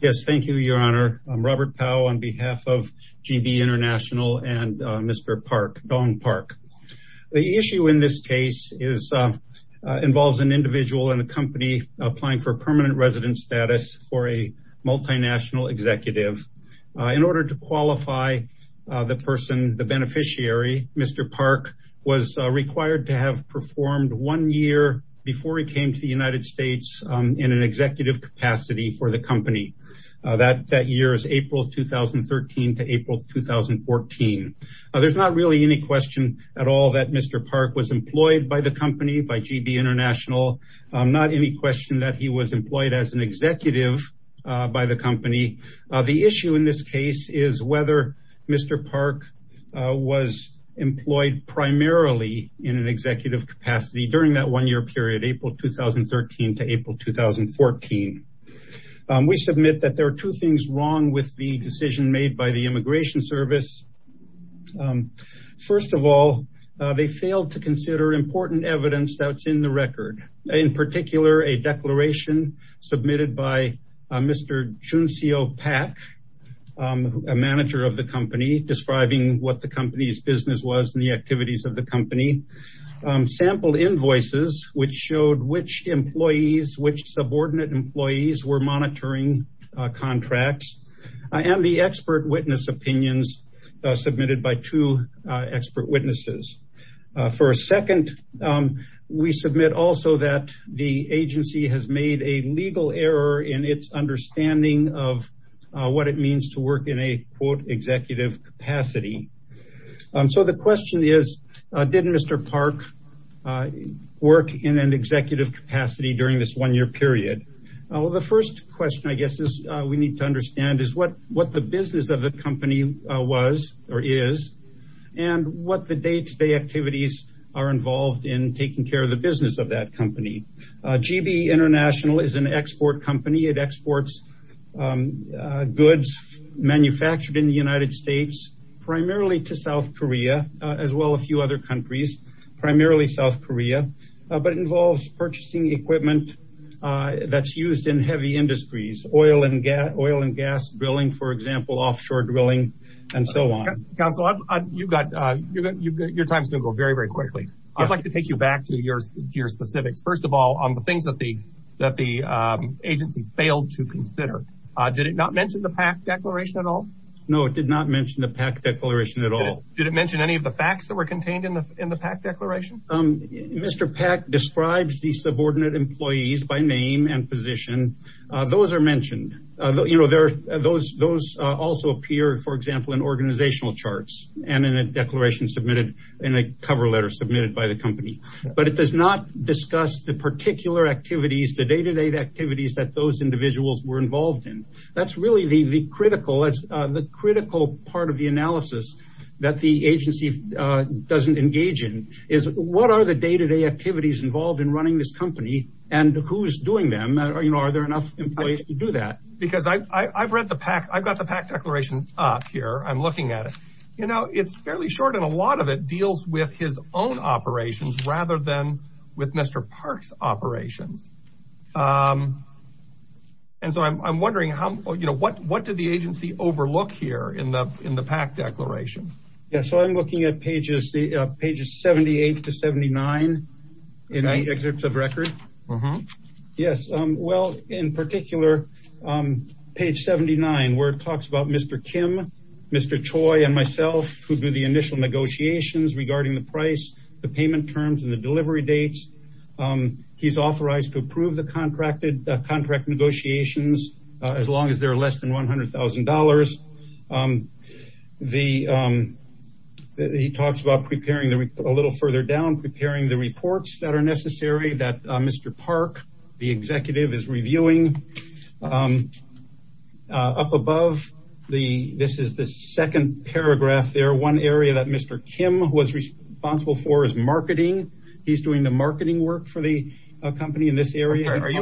Yes, thank you, Your Honor. I'm Robert Powell on behalf of GB International and Mr. Park, Dong Park. The issue in this case involves an individual in a company applying for permanent resident status for a multinational executive. In order to qualify the person, the beneficiary, Mr. Park was required to have performed one year before he came to the United States in an that year is April 2013 to April 2014. There's not really any question at all that Mr. Park was employed by the company, by GB International. Not any question that he was employed as an executive by the company. The issue in this case is whether Mr. Park was employed primarily in an two things wrong with the decision made by the Immigration Service. First of all, they failed to consider important evidence that's in the record. In particular, a declaration submitted by Mr. Juncio Pack, a manager of the company, describing what the company's business was and the activities of the company. Sampled invoices which showed which employees, which subordinate employees were monitoring contracts. And the expert witness opinions submitted by two expert witnesses. For a second, we submit also that the agency has made a legal error in its understanding of what it means to work in a quote executive capacity. So the question is, did Mr. Park work in an executive capacity during this one year period? The first question I guess we need to understand is what the business of the company was or is and what the day-to-day activities are involved in taking care of the business of that company. GB International is an export company. It exports goods manufactured in the United States primarily to South Korea as well as a few other countries, primarily South Korea. But it involves purchasing equipment that's used in heavy industries, oil and gas drilling, for example, offshore drilling, and so on. Counsel, your time is going to go very, very quickly. I'd like to take you back to your specifics. First of all, on the things that the agency failed to consider. Did it not mention the Pack declaration at all? No, it did not mention the Pack declaration at all. Did it mention any of the facts that were contained in the Pack declaration? Mr. Pack describes the subordinate employees by name and position. Those are mentioned. Those also appear, for example, in organizational charts and in a declaration submitted in a cover letter submitted by the company. But it does not discuss the particular activities, the day-to-day activities that those individuals were involved in. That's really the critical part of the analysis that the agency doesn't engage in. What are the day-to-day activities involved in running this company and who's doing them? Are there enough employees to do that? I've got the Pack declaration up here. I'm looking at it. It's fairly short and a lot of it deals with his own operations rather than with Mr. Park's operations. I'm wondering, what did the agency overlook here in the Pack declaration? I'm looking at pages 78 to 79 in the excerpts of record. In particular, page 79 where it talks about Mr. Kim, Mr. Choi, and myself who do the initial negotiations regarding the price, the payment terms, and the delivery dates. He's authorized to approve the contract negotiations as long as they're less than $100,000. He talks about preparing a little further down, preparing the reports that are necessary that Mr. Park, the executive, is reviewing. Up above, this is the second paragraph. One area that Mr. Kim was responsible for is marketing. He's doing the marketing work for the company in this area. I'm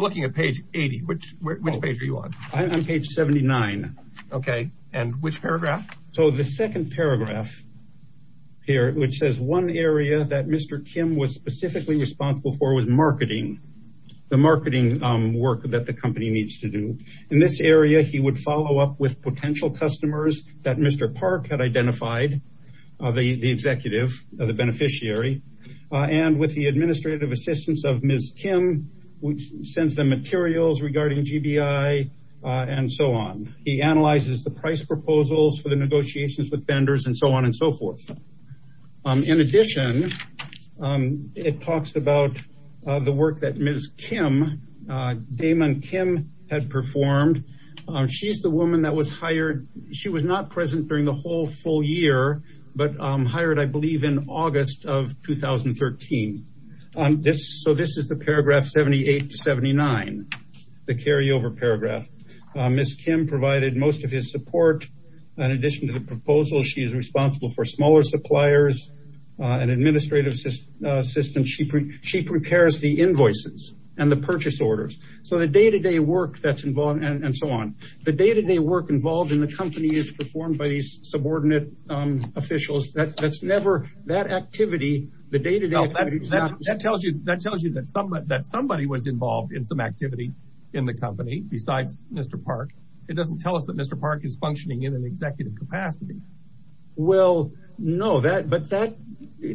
looking at page 80. Which page are you on? I'm on page 79. And which paragraph? The second paragraph here, which says one area that Mr. Kim was specifically responsible for was marketing, the marketing work that the company needs to do. In this area, he would follow up with potential customers that Mr. Park had identified, the executive, the beneficiary, and with the administrative assistance of Ms. Kim, which sends them materials regarding GBI and so on. He analyzes the price proposals for the negotiations with vendors and so on and so forth. In addition, it talks about the work that Ms. Kim, Damon Kim, had performed. She's the woman that was hired. She was not present during the whole full year, but hired, I believe, in August of 2013. This is the paragraph 78 to 79, the carryover paragraph. Ms. Kim provided most of his support. In addition to the proposal, she is responsible for smaller suppliers and administrative assistance. She prepares the invoices and the purchase orders. The day-to-day work that's involved and so on. The day-to-day work involved in the company is performed by subordinate officials. That tells you that somebody was involved in some activity in the company besides Mr. Park. It doesn't tell us that Mr. Park is functioning in an executive capacity. No, but that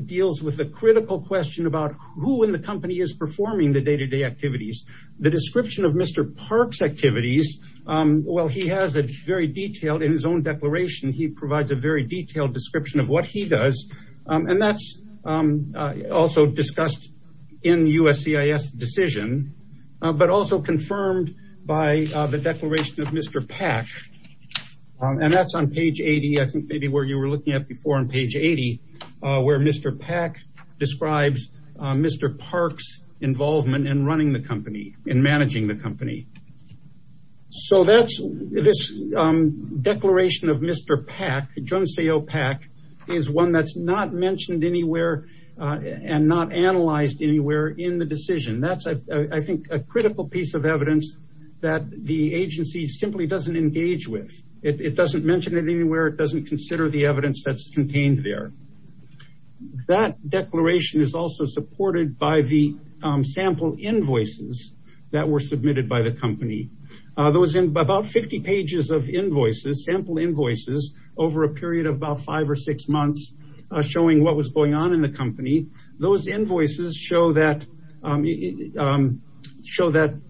deals with the critical question about who in the company is performing the day-to-day activities. The description of Mr. Park's activities, well, he has a very detailed, in his own declaration, he provides a very detailed description of what he does. That's also discussed in USCIS decision, but also confirmed by the declaration of Mr. Pack. That's on page 80. I think maybe where you were looking at before, on page 80, where Mr. Pack describes Mr. Park's involvement in running the company, in managing the company. This declaration of Mr. Pack, Jones AO Pack, is one that's not mentioned anywhere and not analyzed anywhere in the decision. That's, I think, a critical piece of evidence that the agency simply doesn't engage with. It doesn't mention it anywhere. It doesn't consider the evidence that's contained there. That declaration is also supported by the sample invoices that were submitted by the company. There was about 50 pages of invoices, sample invoices, over a period of about five or six months showing what was going on in the company. Those invoices show that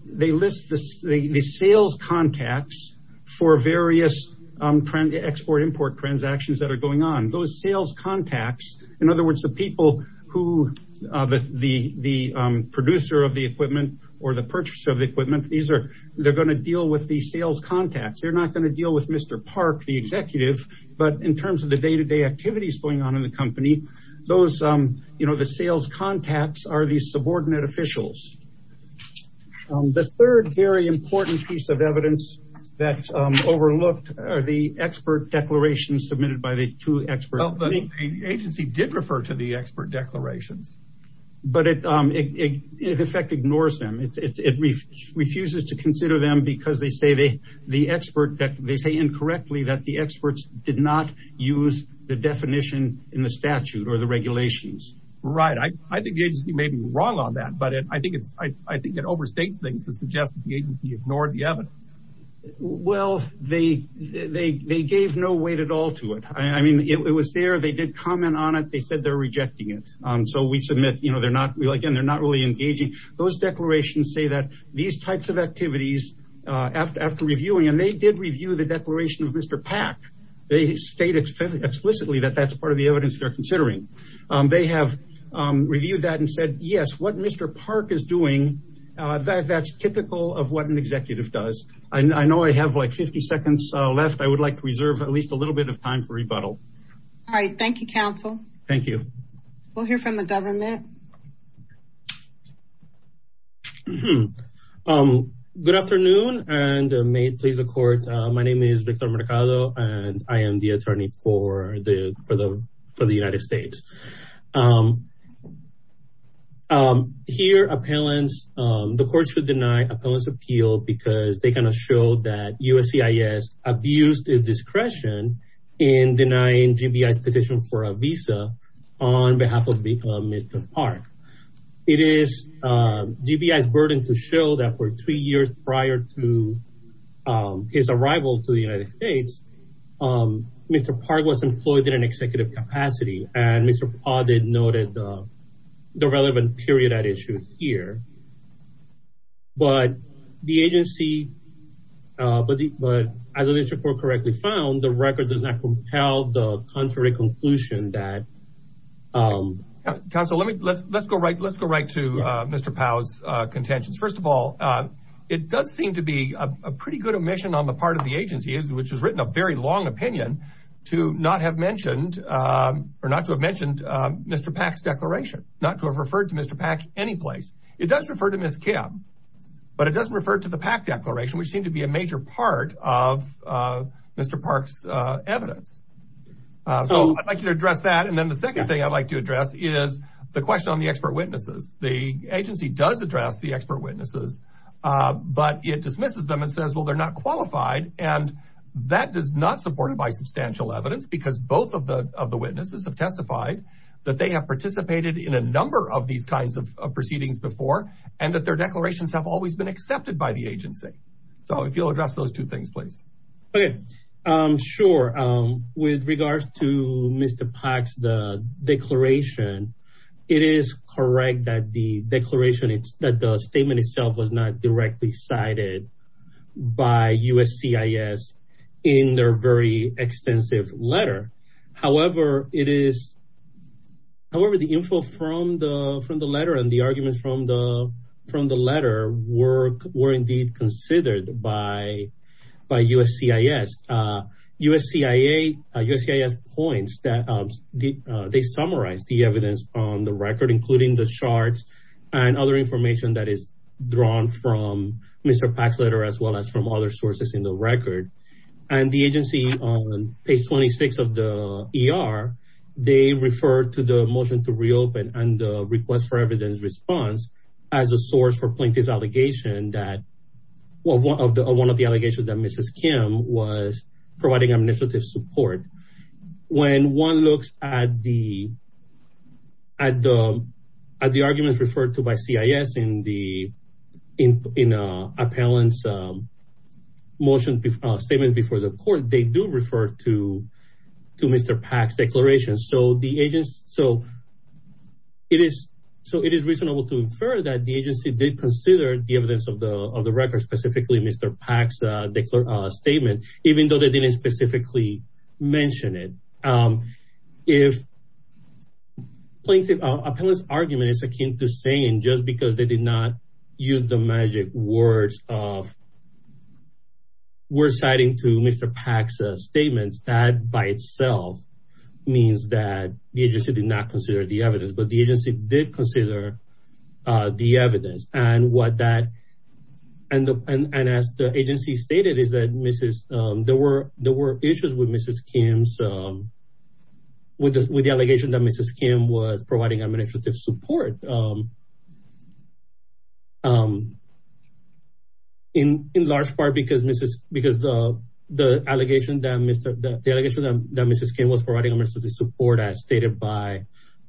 they list the sales contacts for various export-import transactions that are going on. Those sales contacts, in other words, the people who, the producer of the equipment or the purchaser of the equipment, they're going to deal with the sales contacts. They're not going to deal with Mr. Park, the executive, but in terms of the day-to-day activities going on in the company, the sales contacts are the subordinate officials. The third very important piece of evidence that's overlooked are the expert declarations submitted by the two experts. The agency did refer to the expert declarations. But it in effect ignores them. It refuses to consider them because they say incorrectly that the experts did not use the definition in the statute or the regulations. Right. I think the agency may be wrong on that, but I think it overstates things to suggest the agency ignored the evidence. Well, they gave no weight at all to it. I mean, it was there. They did comment on it. They said they're rejecting it. So we submit, you know, they're not really engaging. Those declarations say that these types of activities, after reviewing, and they did review the declaration of Mr. Park, they state explicitly that that's part of the evidence they're considering. They have reviewed that and said, yes, what Mr. Park is doing, that's typical of what an executive does. I know I have like 50 seconds left. I would like to reserve at least a little bit of time for rebuttal. All right. Thank you, counsel. Thank you. We'll hear from the government. Good afternoon and may it please the court. My name is Victor Mercado and I am the attorney for for the United States. Here appellants, the court should deny appellants appeal because they kind of showed that USCIS abused its discretion in denying GBI's petition for a visa on behalf of Mr. Park. It is GBI's burden to show that for three years prior to his arrival to the United States, Mr. Park was employed in an executive capacity and Mr. Powell noted the relevant period at issue here. But the agency, but as the court correctly found, the record does not compel the contrary conclusion that... Counsel, let's go right to Mr. Powell's contentions. First of all, it does seem to be a pretty good omission on the part of the agency, which has written a very long opinion, to not have mentioned or not to have mentioned Mr. Park's declaration, not to have referred to Mr. Park any place. It does refer to Ms. Kim, but it doesn't refer to the Pack declaration, which seemed to be a major part of Mr. Park's evidence. So I'd like to address that. And then the second thing I'd like to address is the question on the expert witnesses. The agency does address the expert witnesses, but it dismisses them and says, well, they're not qualified. And that does not support it by substantial evidence because both of the witnesses have testified that they have participated in a number of these kinds of proceedings before and that their declarations have always been accepted by the agency. So if you'll address those two things, please. Okay. Sure. With regards to Mr. Park's declaration, it is correct that the statement itself was not directly cited by USCIS in their very extensive letter. However, the info from the letter and the arguments from the letter were indeed considered by USCIS. USCIS points that they summarize the evidence on the record, including the charts and other information that is drawn from Mr. Park's letter, as well as from other sources in the record. And the agency on page 26 of the ER, they refer to the motion to reopen and the request for evidence response as a source for plaintiff's allegation that one of the allegations that support. When one looks at the arguments referred to by CIS in the appellant's motion statement before the court, they do refer to Mr. Park's declaration. So it is reasonable to infer that the agency did consider the evidence of the record, specifically Mr. Park's statement, even though they didn't specifically mention it. If plaintiff appellant's argument is akin to saying just because they did not use the magic words of we're citing to Mr. Park's statements that by itself means that the agency did not consider the evidence, but the agency did consider the evidence. And as the agency stated, there were issues with the allegation that Mrs. Kim was providing administrative support in large part because the allegation that Mrs. Kim was providing administrative support as stated by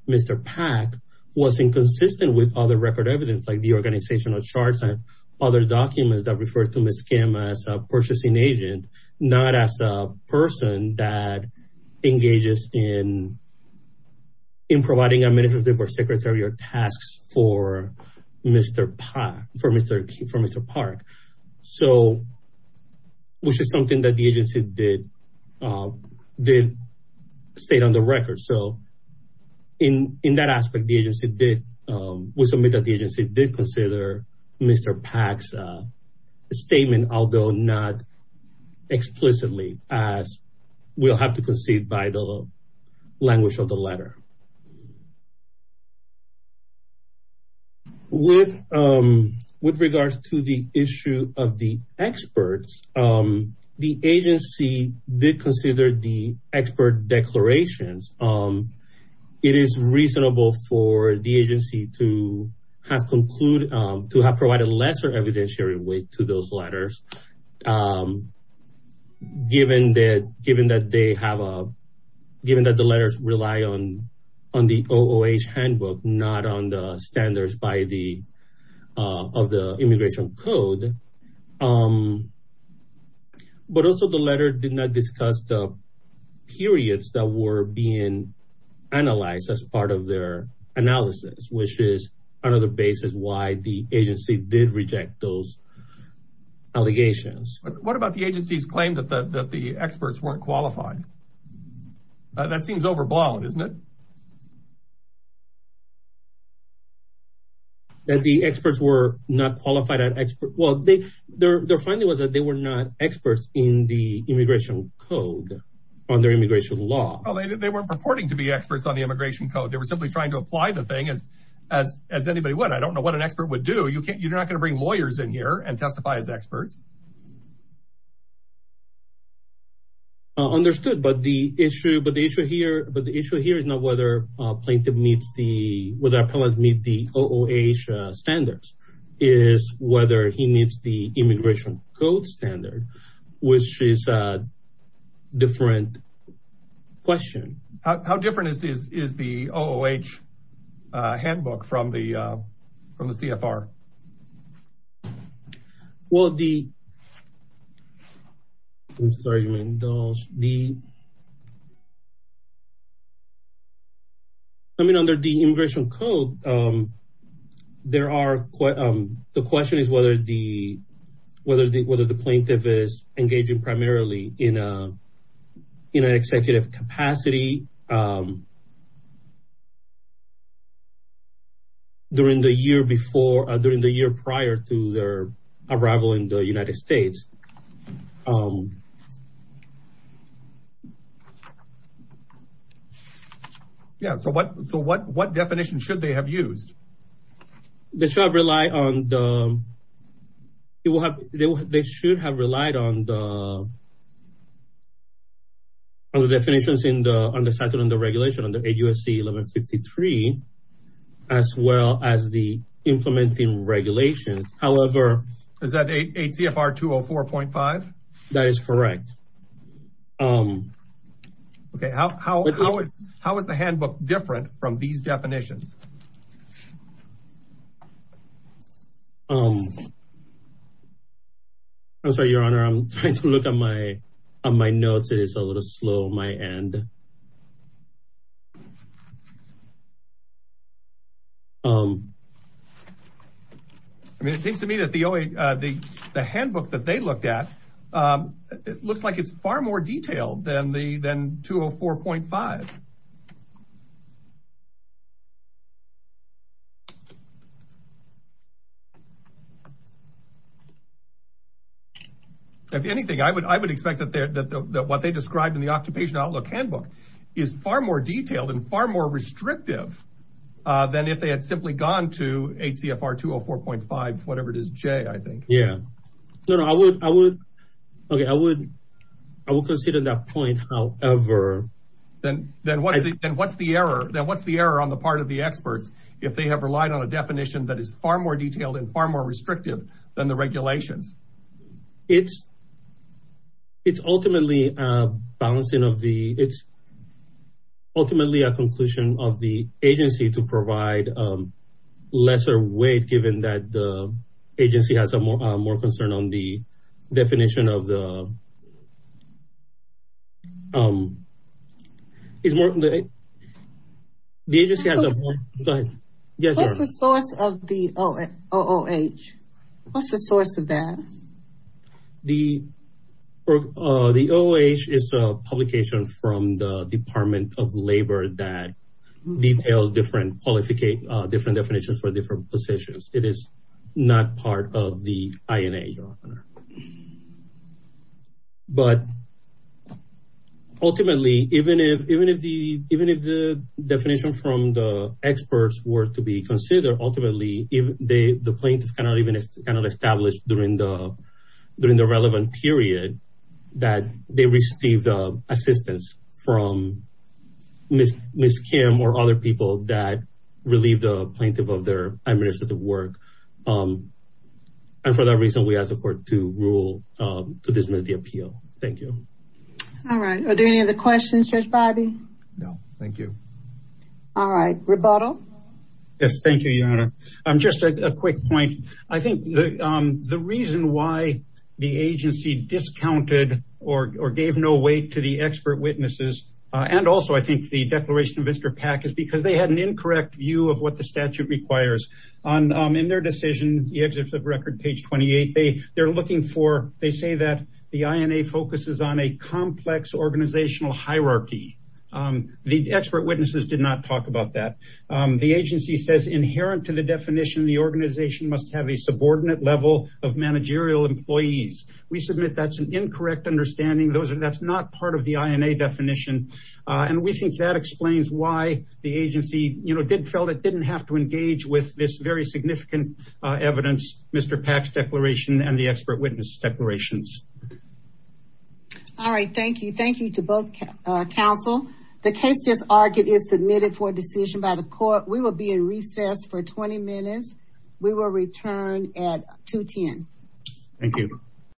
Mr. Park was inconsistent with other record evidence like the organizational charts and other documents that refer to Mrs. Kim as a purchasing agent, not as a person that engages in providing administrative or secretarial tasks for Mr. Park, which is something that the agency did state on the record. So in that aspect, we submit that the agency did consider Mr. Park's statement, although not explicitly as we'll have to concede by the language of the letter. With regards to the issue of the experts, the agency did consider the expert declarations. It is reasonable for the agency to have concluded, to have provided lesser evidentiary weight to those letters, given that the letters rely on the OOH handbook, not on the standards of the immigration code. But also the letter did not discuss the periods that were being analyzed as part of their analysis, which is another basis why the agency did reject those allegations. What about the agency's claim that the experts weren't qualified? That seems overblown, isn't it? That the experts were not qualified as experts? Well, their finding was that they were not experts in the immigration code, on their immigration law. They weren't purporting to be experts on the immigration code. They were simply trying to apply the thing as anybody would. I don't know what an expert would do. You're not going to bring lawyers in here and testify as experts. Understood. But the issue here is not whether a plaintiff meets the, whether appellants meet the OOH standards, is whether he meets the immigration code standard, which is a different question. How different is the OOH handbook from the CFR? Well, the, I'm sorry, you mean those, the, I mean, under the immigration code, there are, the question is whether the, whether the, whether the plaintiff is engaging primarily in a, in an executive capacity during the year before, during the year prior to their arrival in the United States. Yeah. So what, so what, what definition should they have used? They should have relied on the, it will have, they should have relied on the, on the definitions in the, on the statute, on the regulation, on the 8 U.S.C. 1153, as well as the implementing regulations. However, Is that 8 CFR 204.5? That is correct. Okay. How, how, how is, how is the handbook different from these definitions? I'm sorry, your honor, I'm trying to look at my, on my notes. It is a little slow on my end. I mean, it seems to me that the, the handbook that they looked at, it looks like it's far more detailed than the, than 204.5. If anything, I would, I would expect that, that, that, that what they described in the occupation outlook handbook is far more detailed and far more restrictive than if they had simply gone to 8 CFR 204.5, whatever it is, J, I think. Yeah. No, no, I would, I would, okay. I would, I would consider that point. However, then, then what, then what's the error? Then what's the error on the part of the experts? If they have relied on a definition that is far more detailed and far more restrictive than the regulations. It's, it's ultimately a balancing of the, it's ultimately a conclusion of the agency to provide lesser weight, given that the agency has a more, more concern on the definition of the is more, the agency has a more, go ahead. Yes. What's the source of the OOH? What's the source of that? The, the OOH is a publication from the department of labor that details different qualifications, different definitions for different positions. It is not part of the INA. But ultimately, even if, even if the, even if the definition from the experts were to be considered, ultimately, if they, the plaintiff cannot even kind of establish during the, during the relevant period that they received assistance from Ms. Kim or other people that relieved the plaintiff of their administrative work. And for that reason, we asked the court to rule, to dismiss the appeal. Thank you. All right. Are there any other questions, Judge Barbee? No, thank you. All right. Rebuttal. Yes. Thank you, Your Honor. Just a quick point. I think the, the reason why the agency discounted or, or gave no weight to the expert witnesses. And also I think the declaration of Mr. Pack is because they had an incorrect view of what the statute requires on, in their decision, the exit of record page 28. They, they're looking for, they say that the INA focuses on a complex organizational hierarchy. The expert witnesses did not talk about that. The agency says inherent to the definition, the organization must have a subordinate level of managerial employees. We submit that's an incorrect understanding. Those are, that's not part of the INA definition. And we think that explains why the agency, you know, did, felt it didn't have to engage with this very significant evidence, Mr. Pack's declaration and the expert witness declarations. All right. Thank you. Thank you to both counsel. The case just argued is submitted for a decision by the court. We will be in recess for 20 minutes. We will return at 2 10. Thank you.